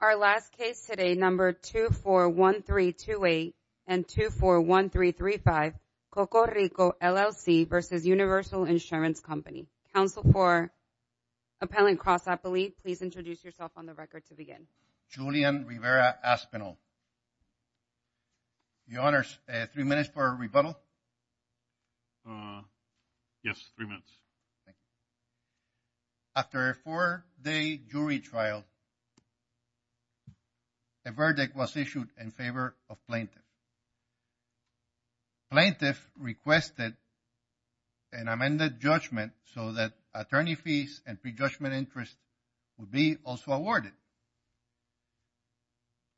Our last case today, number 241328 and 241335, Coco Rico, LLC v. Universal Insurance Company. Counsel for Appellant Cross Appellee, please introduce yourself on the record to begin. Julian Rivera Aspinall. Your Honors, three minutes for a rebuttal. Yes, three minutes. Thank you. After a four-day jury trial, a verdict was issued in favor of plaintiff. Plaintiff requested an amended judgment so that attorney fees and prejudgment interest would be also awarded.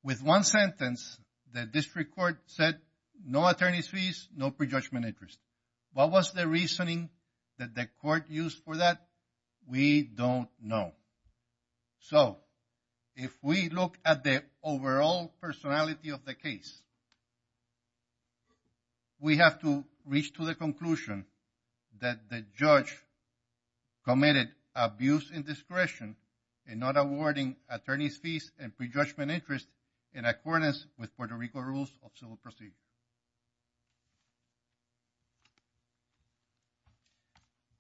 With one sentence, the district court said no attorney's fees, no prejudgment interest. What was the reasoning that the court used for that? We don't know. So if we look at the overall personality of the case, we have to reach to the conclusion that the judge committed abuse and discretion in not awarding attorney's fees and prejudgment interest in accordance with Puerto Rico rules of civil procedure.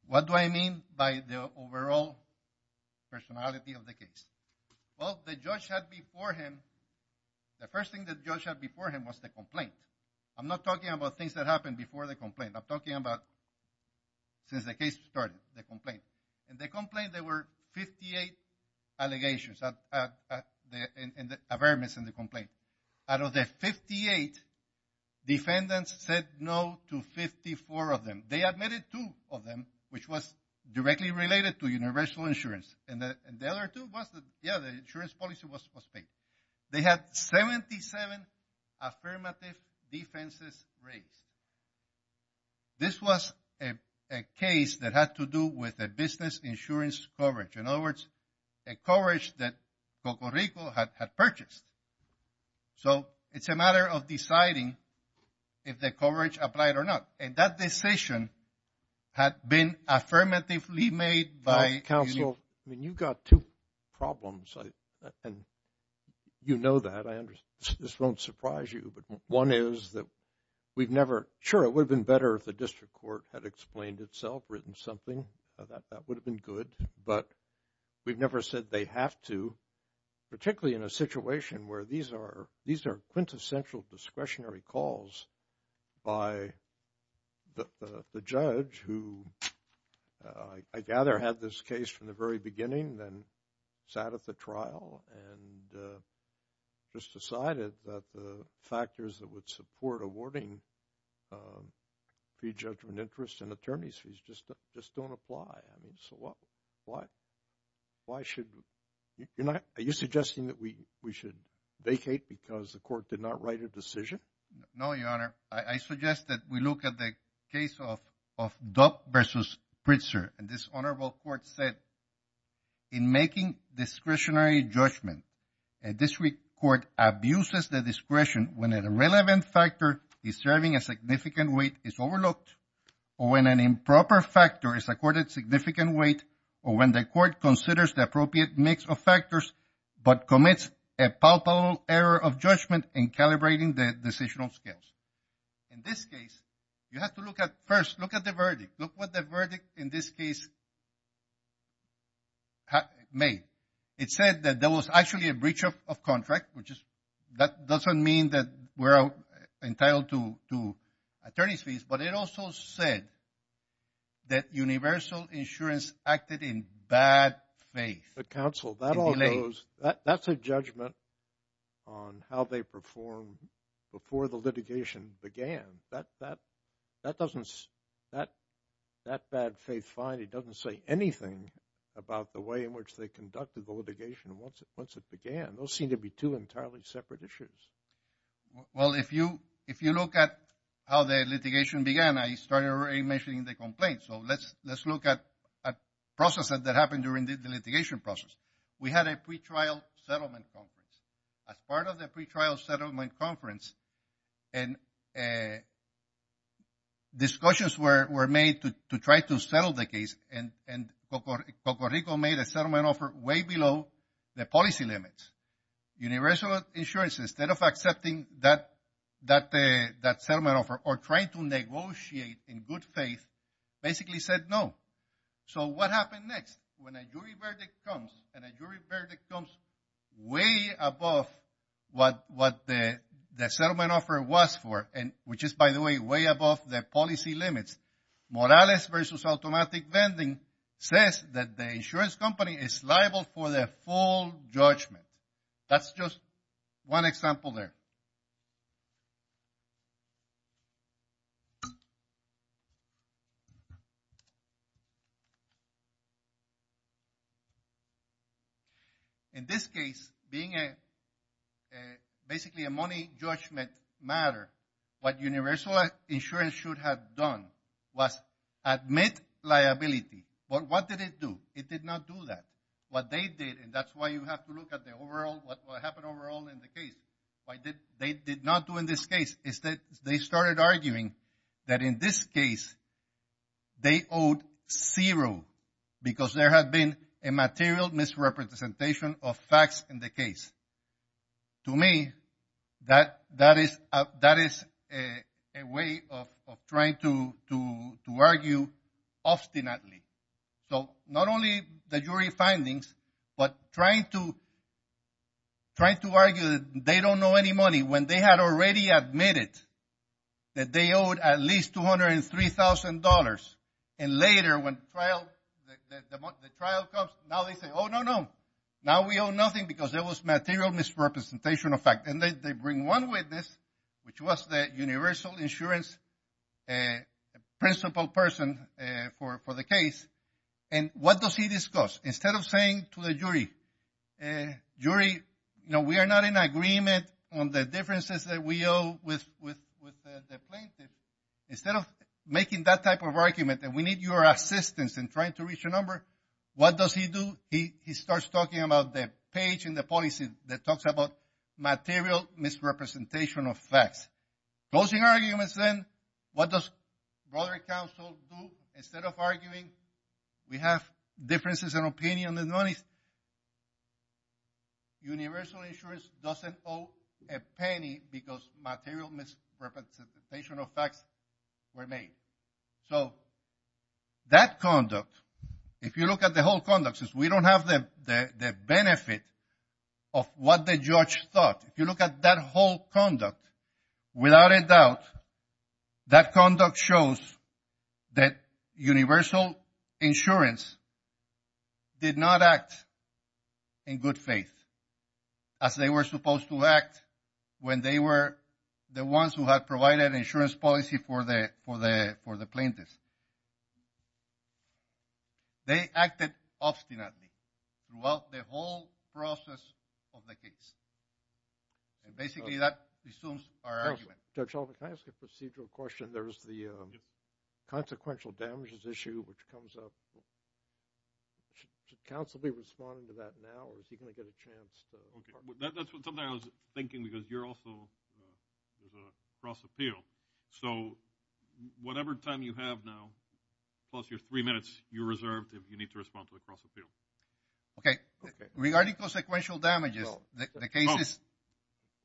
What do I mean by the overall personality of the case? Well, the judge had before him, the first thing the judge had before him was the complaint. I'm not talking about things that happened before the complaint. I'm talking about since the case started, the complaint. In the complaint, there were 58 allegations, affirmance in the complaint. Out of the 58, defendants said no to 54 of them. They admitted two of them, which was directly related to universal insurance. And the other two was that, yeah, the insurance policy was paid. They had 77 affirmative defenses raised. This was a case that had to do with the business insurance coverage. In other words, a coverage that Puerto Rico had purchased. So it's a matter of deciding if the coverage applied or not. And that decision had been affirmatively made by counsel. I mean, you've got two problems. And you know that. I understand. This won't surprise you. One is that we've never, sure, it would have been better if the district court had explained itself, written something, that would have been good. But we've never said they have to, particularly in a situation where these are quintessential discretionary calls by the judge who, I gather, had this case from the very beginning, then sat at the trial and just decided that the factors that would support awarding pre-judgment interest and attorney's fees just don't apply. I mean, so what? Why should, you're not, are you suggesting that we should vacate because the court did not write a decision? No, Your Honor. I suggest that we look at the case of Dock versus Pritzker. And this honorable court said, in making discretionary judgment, a district court abuses the discretion when an irrelevant factor is serving a significant weight is overlooked, or when an improper factor is accorded significant weight, or when the court considers the appropriate mix of factors, but commits a palpable error of judgment in calibrating the decisional skills. In this case, you have to look at, first, look at the verdict. Look what the verdict in this case made. It said that there was actually a breach of contract, which is, that doesn't mean that we're entitled to attorney's fees, but it also said that Universal Insurance acted in bad faith. But counsel, that all goes, that's a judgment on how they performed before the litigation began. That doesn't, that bad faith finding doesn't say anything about the way in which they conducted the litigation once it began. Those seem to be two entirely separate issues. Well, if you look at how the litigation began, I started already mentioning the complaint. So, let's look at processes that happened during the litigation process. We had a pretrial settlement conference. As part of the pretrial settlement conference, and discussions were made to try to settle the case, and Coco Rico made a settlement offer way below the policy limits. Universal Insurance, instead of accepting that settlement offer, or trying to negotiate in good faith, basically said no. So, what happened next? When a jury verdict comes, and a jury verdict comes way above what the settlement offer was for, and which is, by the way, way above the policy limits, Morales versus Automatic Vending says that the insurance company is liable for the full judgment. That's just one example there. In this case, being basically a money judgment matter, what Universal Insurance should have done was admit liability. But what did it do? It did not do that. What they did, and that's why you have to look at the overall, what happened overall in the case. What they did not do in this case is that they started arguing that in this case, they owed zero, because there had been a material misrepresentation of facts in the case. To me, that is a way of trying to argue obstinately. So, not only the jury findings, but trying to argue that they don't know any money, when they had already admitted that they owed at least $203,000. And later, when the trial comes, now they say, oh, no, no. Now we owe nothing, because there was material misrepresentation of facts. And they bring one witness, which was the Universal Insurance principal person for the case. And what does he discuss? Instead of saying to the jury, jury, we are not in agreement on the differences that we owe with the plaintiff. Instead of making that type of argument that we need your assistance in trying to reach a number, what does he do? He starts talking about the page in the policy that talks about material misrepresentation of facts. Closing arguments then, what does broader counsel do? Instead of arguing, we have differences in opinion on the monies. Universal Insurance doesn't owe a penny because material misrepresentation of facts were made. So, that conduct, if you look at the whole conduct, since we don't have the benefit of what the judge thought. If you look at that whole conduct, without a doubt, that conduct shows that Universal Insurance did not act in good faith. As they were supposed to act when they were the ones who had provided insurance policy for the plaintiff. They acted obstinately throughout the whole process of the case. And basically that resumes our argument. Judge Hoffman, can I ask a procedural question? There's the consequential damages issue which comes up. Should counsel be responding to that now or is he going to get a chance to? That's something I was thinking because you're also cross appeal. So, whatever time you have now, plus your three minutes, you're reserved if you need to respond to the cross appeal. Okay. Regarding consequential damages, the case is?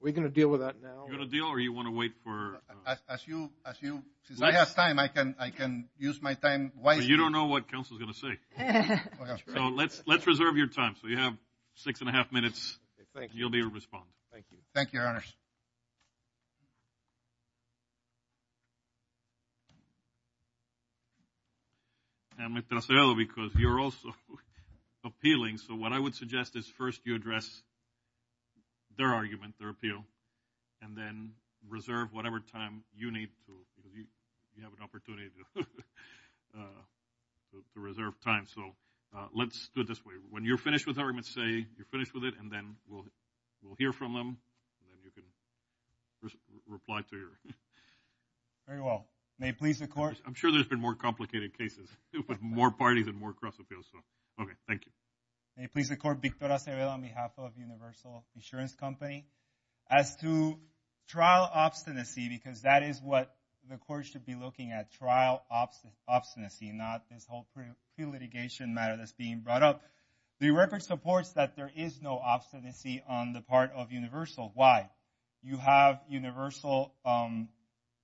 We're going to deal with that now? You're going to deal or you want to wait for? As you, as you, since I have time, I can use my time wisely. But you don't know what counsel's going to say. So, let's reserve your time. So, you have six and a half minutes. Thank you. You'll be responding. Thank you. Thank you, your honors. And because you're also appealing. So, what I would suggest is first you address their argument, their appeal, and then reserve whatever time you need. You have an opportunity to reserve time. So, let's do it this way. When you're finished with arguments, say you're finished with it, and then we'll hear from them. And then you can reply to your. Very well. May it please the court. I'm sure there's been more complicated cases, but more parties and more cross appeals. So, okay. Thank you. May it please the court. Victor Acevedo on behalf of Universal Insurance Company. As to trial obstinacy, because that is what the court should be looking at, trial obstinacy, not this whole pre-litigation matter that's being brought up. The record supports that there is no obstinacy on the part of Universal. Why? You have Universal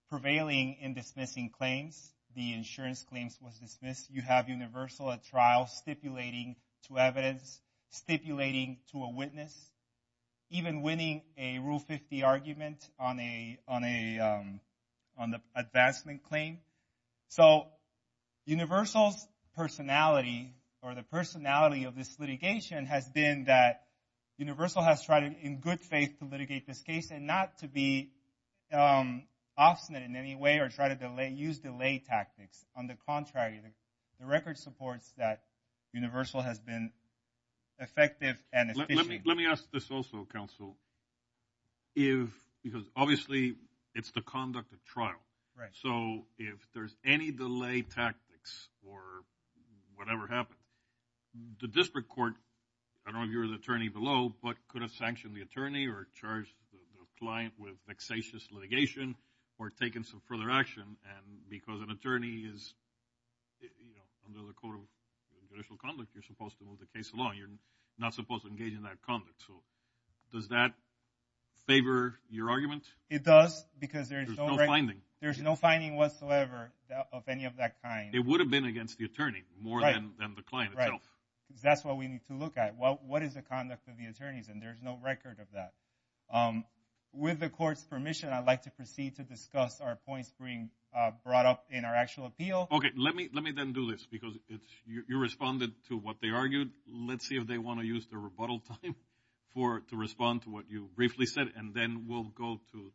prevailing in dismissing claims. The insurance claims was dismissed. You have Universal at trial stipulating to evidence, stipulating to a witness, even winning a Rule 50 argument on the advancement claim. So, Universal's personality or the personality of this litigation has been that Universal has tried in good faith to litigate this case and not to be obstinate in any way or try to use delay tactics. On the contrary, the record supports that Universal has been effective and efficient. Let me ask this also, counsel, because obviously it's the conduct of trial. So, if there's any delay tactics or whatever happened, the district court, I don't know if you're the attorney below, but could have sanctioned the attorney or charged the client with vexatious litigation or taken some further action and because an attorney is under the code of judicial conduct, you're supposed to move the case along. You're not supposed to engage in that conduct. So, does that favor your argument? It does because there is no finding. There's no finding whatsoever of any of that kind. It would have been against the attorney more than the client itself. Right, because that's what we need to look at. What is the conduct of the attorneys? And there's no record of that. With the court's permission, I'd like to proceed to discuss our points being brought up in our actual appeal. Okay, let me then do this because you responded to what they argued. Let's see if they want to use their rebuttal time to respond to what you briefly said, and then we'll go to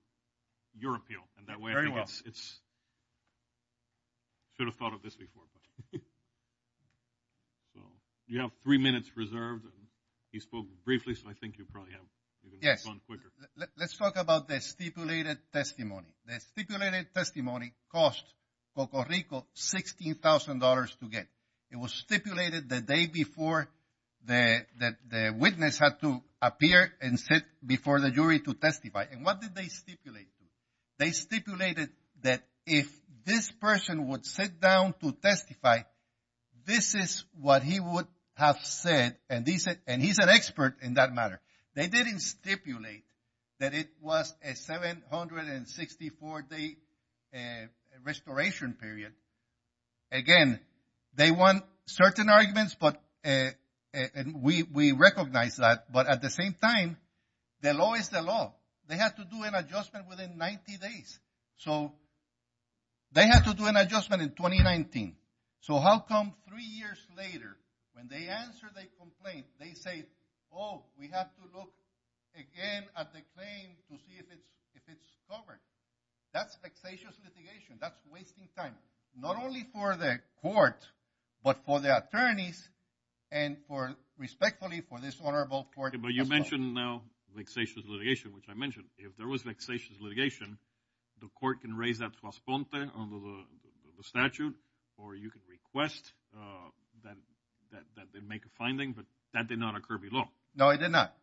your appeal. Very well. I should have thought of this before. You have three minutes reserved. You spoke briefly, so I think you probably have to respond quicker. Let's talk about the stipulated testimony. The stipulated testimony cost Coco Rico $16,000 to get. It was stipulated the day before the witness had to appear and sit before the jury to testify. And what did they stipulate? They stipulated that if this person would sit down to testify, this is what he would have said, and he's an expert in that matter. They didn't stipulate that it was a 764-day restoration period. Again, they want certain arguments, and we recognize that, but at the same time, the law is the law. They have to do an adjustment within 90 days. So they have to do an adjustment in 2019. So how come three years later, when they answer their complaint, they say, oh, we have to look again at the claim to see if it's covered. That's vexatious litigation. That's wasting time, not only for the court, but for the attorneys and respectfully for this honorable court. Okay, but you mentioned now vexatious litigation, which I mentioned. If there was vexatious litigation, the court can raise that trasponte under the statute, or you can request that they make a finding, but that did not occur below. No, it did not.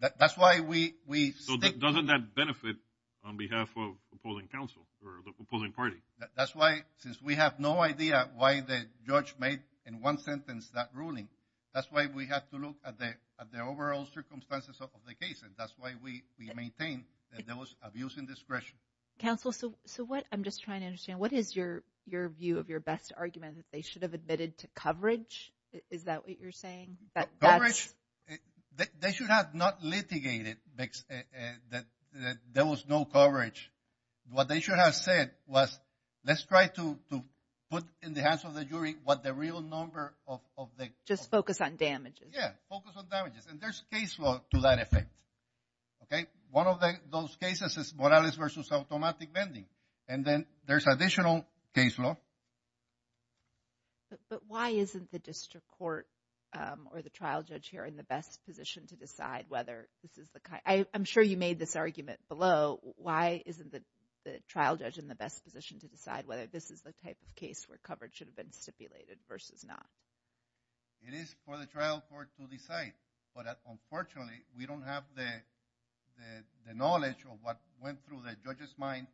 That's why we stick to it. So doesn't that benefit on behalf of opposing counsel or the opposing party? That's why, since we have no idea why the judge made in one sentence that ruling, that's why we have to look at the overall circumstances of the case, and that's why we maintain that there was abuse and discretion. Counsel, so what I'm just trying to understand, what is your view of your best argument, that they should have admitted to coverage? Is that what you're saying? Coverage, they should have not litigated that there was no coverage. What they should have said was, let's try to put in the hands of the jury what the real number of the— Just focus on damages. Yeah, focus on damages, and there's case law to that effect. One of those cases is Morales v. Automatic Vending, and then there's additional case law. But why isn't the district court or the trial judge here in the best position to decide whether this is the kind— I'm sure you made this argument below. Why isn't the trial judge in the best position to decide whether this is the type of case where coverage should have been stipulated versus not? It is for the trial court to decide, but unfortunately, we don't have the knowledge of what went through the judge's mind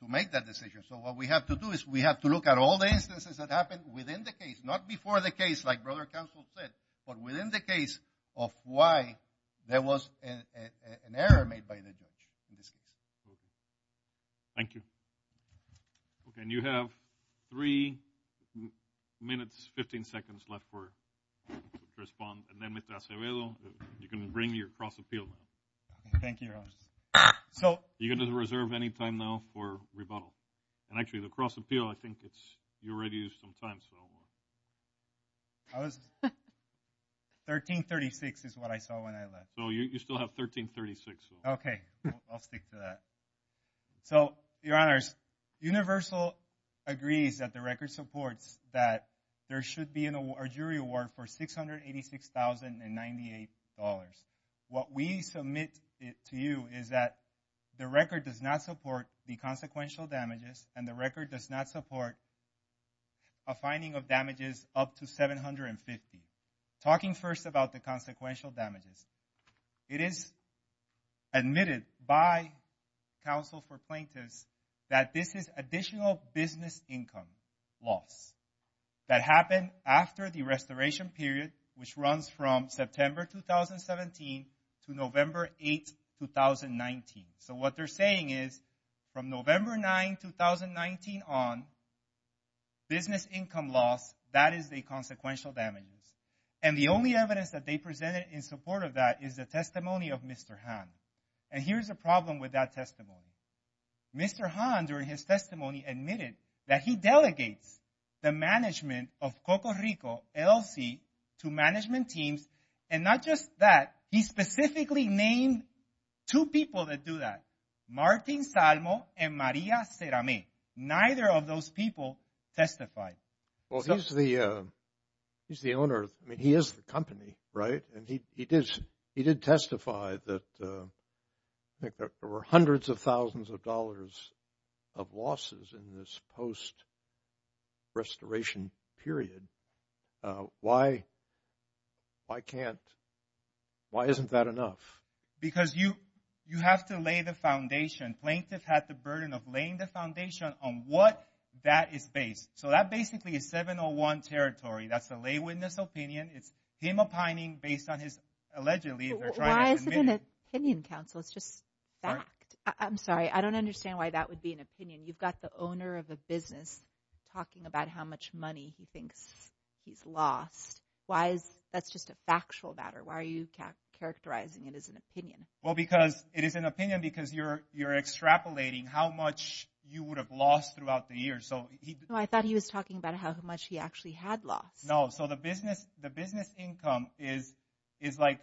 to make that decision. So what we have to do is we have to look at all the instances that happened within the case, not before the case like Brother Counsel said, but within the case of why there was an error made by the judge in this case. Thank you. Okay, and you have three minutes, 15 seconds left to respond. And then, Mr. Acevedo, you can bring your cross appeal. Thank you, Your Honor. So you're going to reserve any time now for rebuttal. And actually, the cross appeal, I think it's—you already used some time, so. I was—1336 is what I saw when I left. So you still have 1336. Okay, I'll stick to that. So, Your Honors, Universal agrees that the record supports that there should be a jury award for $686,098. What we submit to you is that the record does not support the consequential damages and the record does not support a finding of damages up to $750,000. Talking first about the consequential damages, it is admitted by counsel for plaintiffs that this is additional business income loss that happened after the restoration period, which runs from September 2017 to November 8, 2019. So what they're saying is, from November 9, 2019 on, business income loss, that is the consequential damages. And the only evidence that they presented in support of that is the testimony of Mr. Hahn. And here's the problem with that testimony. Mr. Hahn, during his testimony, admitted that he delegates the management of Coco Rico LLC to management teams. And not just that, he specifically named two people that do that, Martin Salmo and Maria Cerame. Neither of those people testified. Well, he's the owner. I mean, he is the company, right? And he did testify that there were hundreds of thousands of dollars of losses in this post-restoration period. Why can't, why isn't that enough? Because you have to lay the foundation. Plaintiff had the burden of laying the foundation on what that is based. So that basically is 701 territory. That's a lay witness opinion. It's him opining based on his, allegedly. Why is it an opinion, counsel? It's just fact. I'm sorry. I don't understand why that would be an opinion. You've got the owner of a business talking about how much money he thinks he's lost. Why is, that's just a factual matter. Why are you characterizing it as an opinion? Well, because it is an opinion because you're extrapolating how much you would have lost throughout the years. I thought he was talking about how much he actually had lost. No, so the business income is like,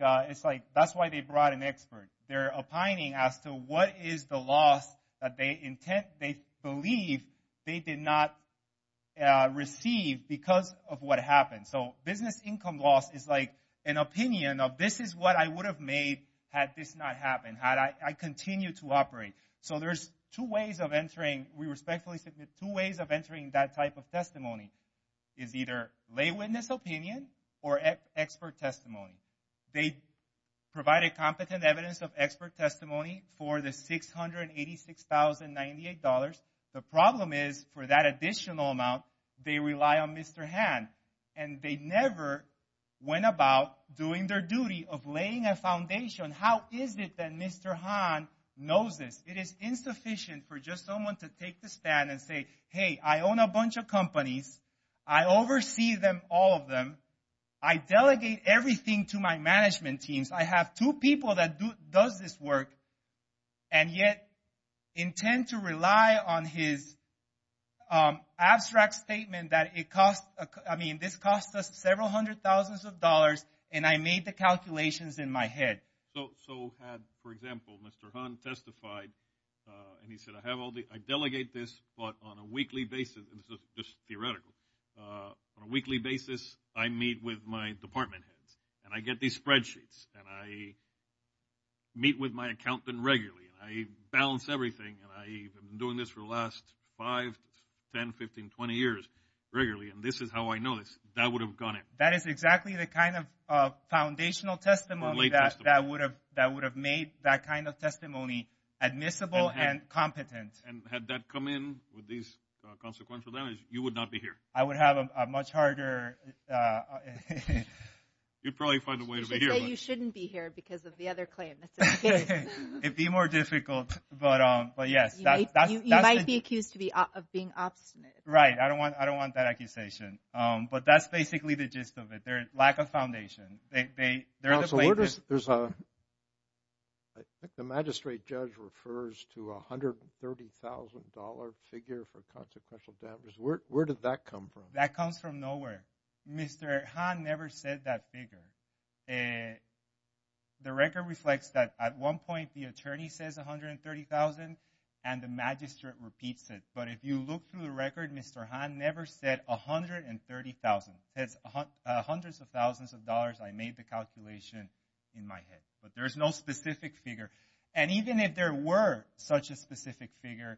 that's why they brought an expert. They're opining as to what is the loss that they intend, they believe they did not receive because of what happened. So business income loss is like an opinion of this is what I would have made had this not happened, had I continued to operate. So there's two ways of entering. We respectfully submit two ways of entering that type of testimony is either lay witness opinion or expert testimony. They provide a competent evidence of expert testimony for the $686,098. The problem is for that additional amount, they rely on Mr. Hahn. And they never went about doing their duty of laying a foundation. How is it that Mr. Hahn knows this? It is insufficient for just someone to take the stand and say, hey, I own a bunch of companies. I oversee them, all of them. I delegate everything to my management teams. I have two people that does this work and yet intend to rely on his abstract statement that it cost, I mean, this cost us several hundred thousands of dollars. And I made the calculations in my head. So had, for example, Mr. Hahn testified and he said, I have all the, I delegate this, but on a weekly basis, just theoretical, on a weekly basis, I meet with my department heads and I get these spreadsheets and I meet with my accountant regularly. I balance everything and I've been doing this for the last five, 10, 15, 20 years regularly. And this is how I know this. That would have gone in. That is exactly the kind of foundational testimony that would have made that kind of testimony admissible and competent. And had that come in with these consequential damages, you would not be here. I would have a much harder. You'd probably find a way to be here. You shouldn't be here because of the other claim. It'd be more difficult. But yes. You might be accused of being obstinate. Right. I don't want that accusation. But that's basically the gist of it. There's lack of foundation. There's a, I think the magistrate judge refers to $130,000 figure for consequential damages. Where did that come from? That comes from nowhere. Mr. Hahn never said that figure. The record reflects that at one point the attorney says $130,000 and the magistrate repeats it. But if you look through the record, Mr. Hahn never said $130,000. That's hundreds of thousands of dollars I made the calculation in my head. But there's no specific figure. And even if there were such a specific figure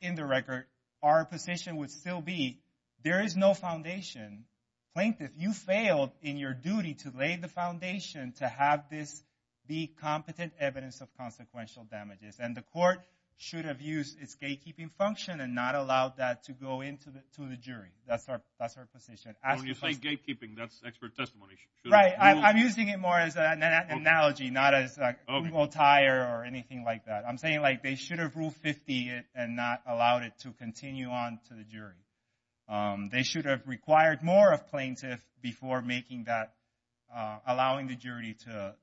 in the record, our position would still be there is no foundation. Plaintiff, you failed in your duty to lay the foundation to have this be competent evidence of consequential damages. And the court should have used its gatekeeping function and not allowed that to go into the jury. That's our position. When you say gatekeeping, that's expert testimony. Right. I'm using it more as an analogy, not as a tire or anything like that. I'm saying like they should have ruled 50 and not allowed it to continue on to the jury. They should have required more of plaintiff before making that, allowing the jury to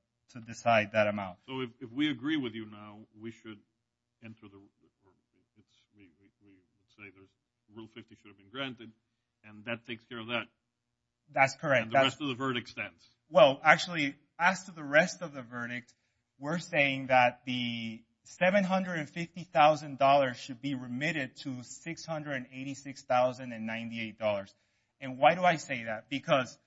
decide that amount. So if we agree with you now, we should enter the rule 50 should have been granted, and that takes care of that. That's correct. And the rest of the verdict stands. Well, actually, as to the rest of the verdict, we're saying that the $750,000 should be remitted to $686,098. And why do I say that? Because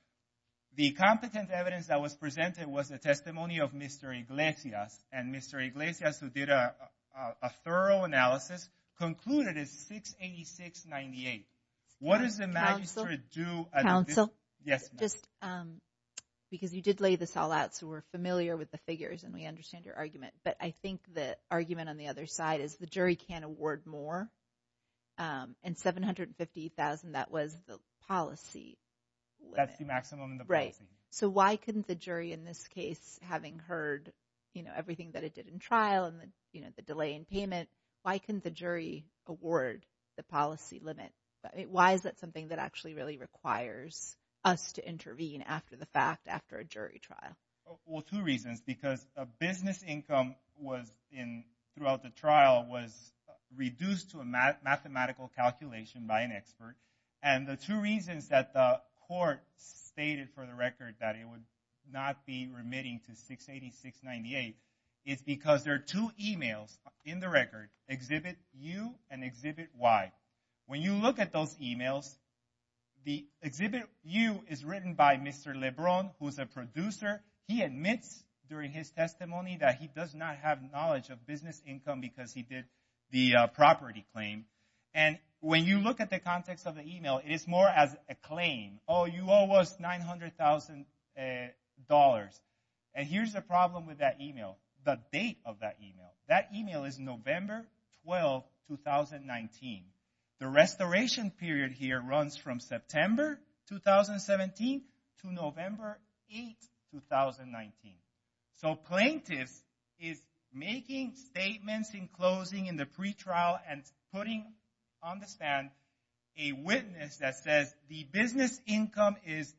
the competent evidence that was presented was the testimony of Mr. Iglesias. And Mr. Iglesias, who did a thorough analysis, concluded it's $686,098. What does the magistrate do? Yes, ma'am. Just because you did lay this all out, so we're familiar with the figures and we understand your argument. But I think the argument on the other side is the jury can't award more. And $750,000, that was the policy limit. That's the maximum in the policy. Right. So why couldn't the jury in this case, having heard everything that it did in trial and the delay in payment, why couldn't the jury award the policy limit? Why is that something that actually really requires us to intervene after the fact, after a jury trial? Well, two reasons. Because a business income throughout the trial was reduced to a mathematical calculation by an expert. And the two reasons that the court stated for the record that it would not be remitting to $686,098 is because there are two emails in the record, Exhibit U and Exhibit Y. When you look at those emails, the Exhibit U is written by Mr. Lebron, who is a producer. He admits during his testimony that he does not have knowledge of business income because he did the property claim. And when you look at the context of the email, it is more as a claim. Oh, you owe us $900,000. And here's the problem with that email, the date of that email. That email is November 12, 2019. The restoration period here runs from September 2017 to November 8, 2019. So plaintiff is making statements in closing in the pretrial and putting on the stand a witness that says the business income is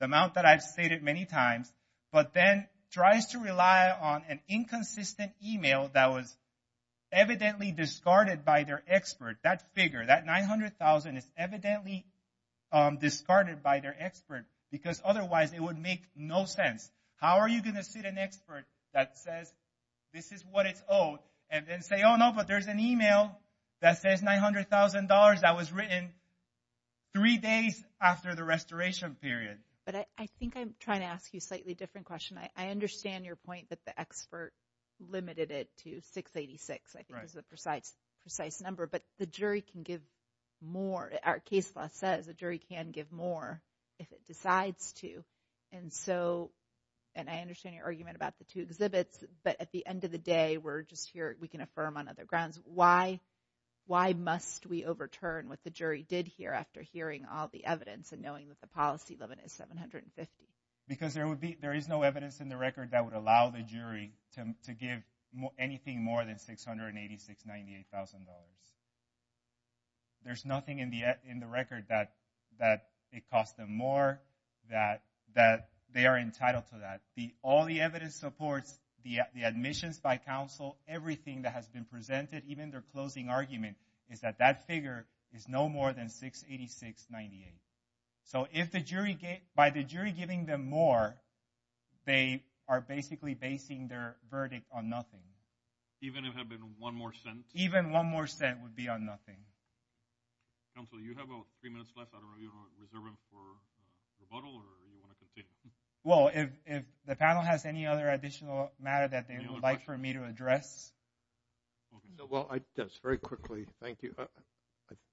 the amount that I've stated many times, but then tries to rely on an inconsistent email that was evidently discarded by their expert. That figure, that $900,000 is evidently discarded by their expert because otherwise it would make no sense. How are you going to sit an expert that says this is what it's owed and then say, oh, no, but there's an email that says $900,000 that was written three days after the restoration period? But I think I'm trying to ask you a slightly different question. I understand your point that the expert limited it to $686,000. I think that's a precise number, but the jury can give more. Our case law says the jury can give more if it decides to. And so, and I understand your argument about the two exhibits, but at the end of the day, we're just here. We can affirm on other grounds. Why must we overturn what the jury did here after hearing all the evidence and knowing that the policy limit is $750,000? Because there is no evidence in the record that would allow the jury to give anything more than $686,000. There's nothing in the record that it costs them more, that they are entitled to that. All the evidence supports, the admissions by counsel, everything that has been presented, even their closing argument is that that figure is no more than $686,000. So if the jury, by the jury giving them more, they are basically basing their verdict on nothing. Even if it had been one more cent? Even one more cent would be on nothing. Counsel, you have about three minutes left. Are you going to reserve it for rebuttal or do you want to continue? Well, if the panel has any other additional matter that they would like for me to address. Well, just very quickly. Thank you.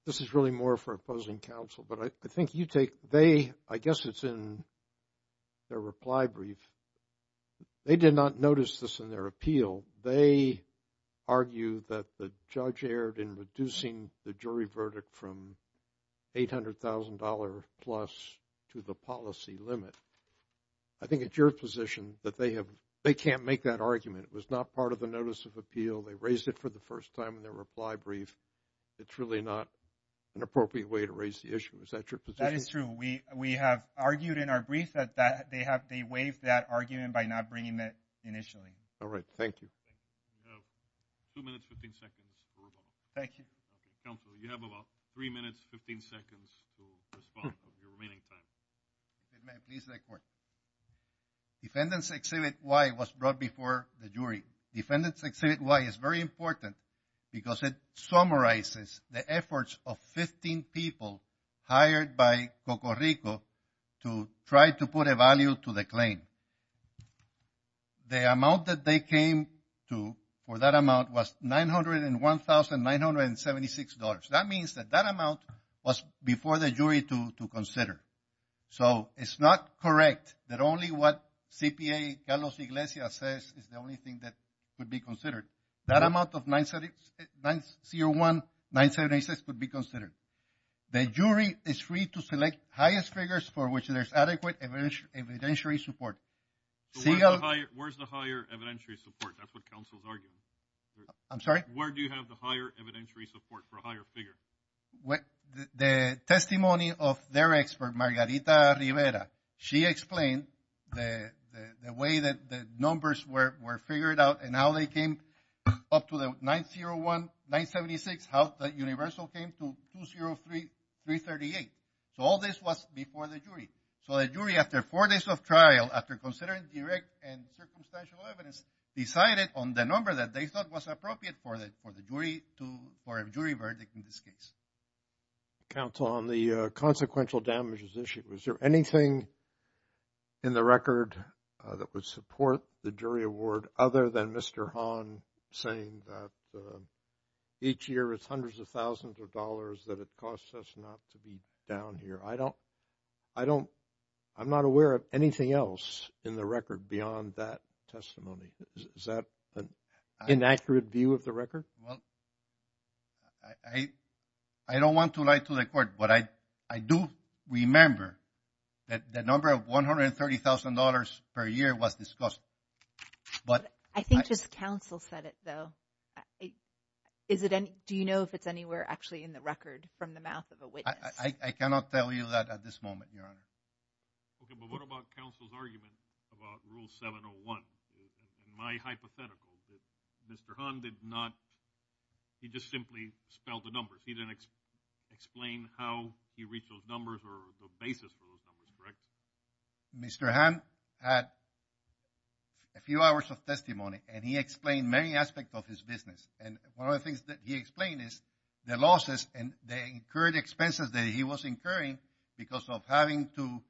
This is really more for opposing counsel, but I think you take, they, I guess it's in their reply brief. They did not notice this in their appeal. They argue that the judge erred in reducing the jury verdict from $800,000 plus to the policy limit. I think it's your position that they have, they can't make that argument. It was not part of the notice of appeal. They raised it for the first time in their reply brief. It's really not an appropriate way to raise the issue. Is that your position? That is true. We have argued in our brief that they have, they waived that argument by not bringing it initially. All right. Thank you. You have two minutes, 15 seconds for rebuttal. Thank you. Counsel, you have about three minutes, 15 seconds to respond for your remaining time. If I may, please, the court. Defendant's exhibit Y was brought before the jury. Defendant's exhibit Y is very important because it summarizes the efforts of 15 people hired by Cocorico to try to put a value to the claim. The amount that they came to for that amount was $901,976. That means that that amount was before the jury to consider. So it's not correct that only what CPA Carlos Iglesias says is the only thing that could be considered. That amount of $901,976 could be considered. The jury is free to select highest figures for which there's adequate evidentiary support. Where's the higher evidentiary support? That's what counsel's arguing. I'm sorry? Where do you have the higher evidentiary support for a higher figure? The testimony of their expert, Margarita Rivera, she explained the way that the numbers were figured out and how they came up to the $901,976, how the universal came to $203,338. So all this was before the jury. So the jury after four days of trial, after considering direct and circumstantial evidence, decided on the number that they thought was appropriate for a jury verdict in this case. Counsel, on the consequential damages issue, was there anything in the record that would support the jury award other than Mr. Hahn saying that each year it's hundreds of thousands of dollars that it costs us not to be down here? I'm not aware of anything else in the record beyond that testimony. Is that an inaccurate view of the record? Well, I don't want to lie to the court, but I do remember that the number of $130,000 per year was discussed. I think just counsel said it, though. Do you know if it's anywhere actually in the record from the mouth of a witness? I cannot tell you that at this moment, Your Honor. Okay, but what about counsel's argument about Rule 701? In my hypothetical, Mr. Hahn did not – he just simply spelled the numbers. He didn't explain how he reached those numbers or the basis for those numbers, correct? Mr. Hahn had a few hours of testimony, and he explained many aspects of his business. And one of the things that he explained is the losses and the incurred expenses that he was incurring because of having to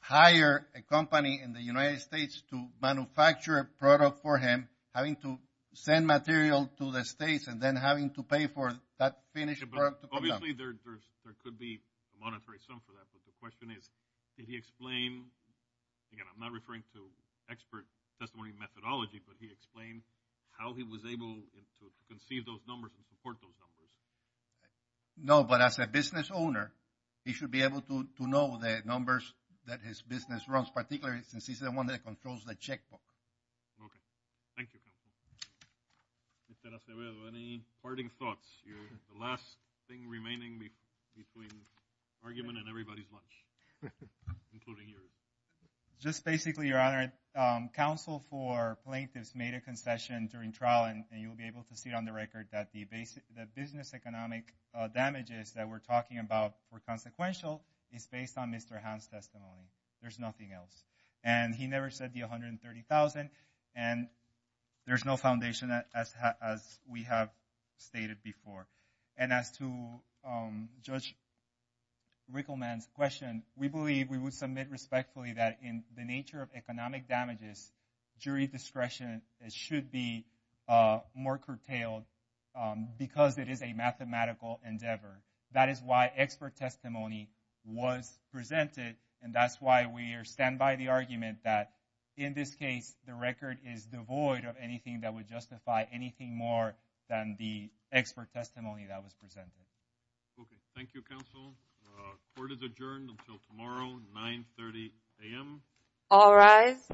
hire a company in the United States to manufacture a product for him, having to send material to the States, and then having to pay for that finished product. Obviously, there could be a monetary sum for that, but the question is, did he explain – again, I'm not referring to expert testimony methodology, but he explained how he was able to conceive those numbers and support those numbers. No, but as a business owner, he should be able to know the numbers that his business runs, particularly since he's the one that controls the checkbook. Okay, thank you. Mr. Acevedo, any parting thoughts? You're the last thing remaining between argument and everybody's lunch, including yours. Just basically, Your Honor, counsel for plaintiffs made a concession during trial, and you'll be able to see it on the record that the business economic damages that we're talking about were consequential is based on Mr. Hahn's testimony. There's nothing else. And he never said the $130,000, and there's no foundation as we have stated before. And as to Judge Rickleman's question, we believe we would submit respectfully that in the nature of economic damages, jury discretion should be more curtailed because it is a mathematical endeavor. That is why expert testimony was presented. And that's why we stand by the argument that, in this case, the record is devoid of anything that would justify anything more than the expert testimony that was presented. Okay, thank you, counsel. Court is adjourned until tomorrow, 930 a.m. All rise.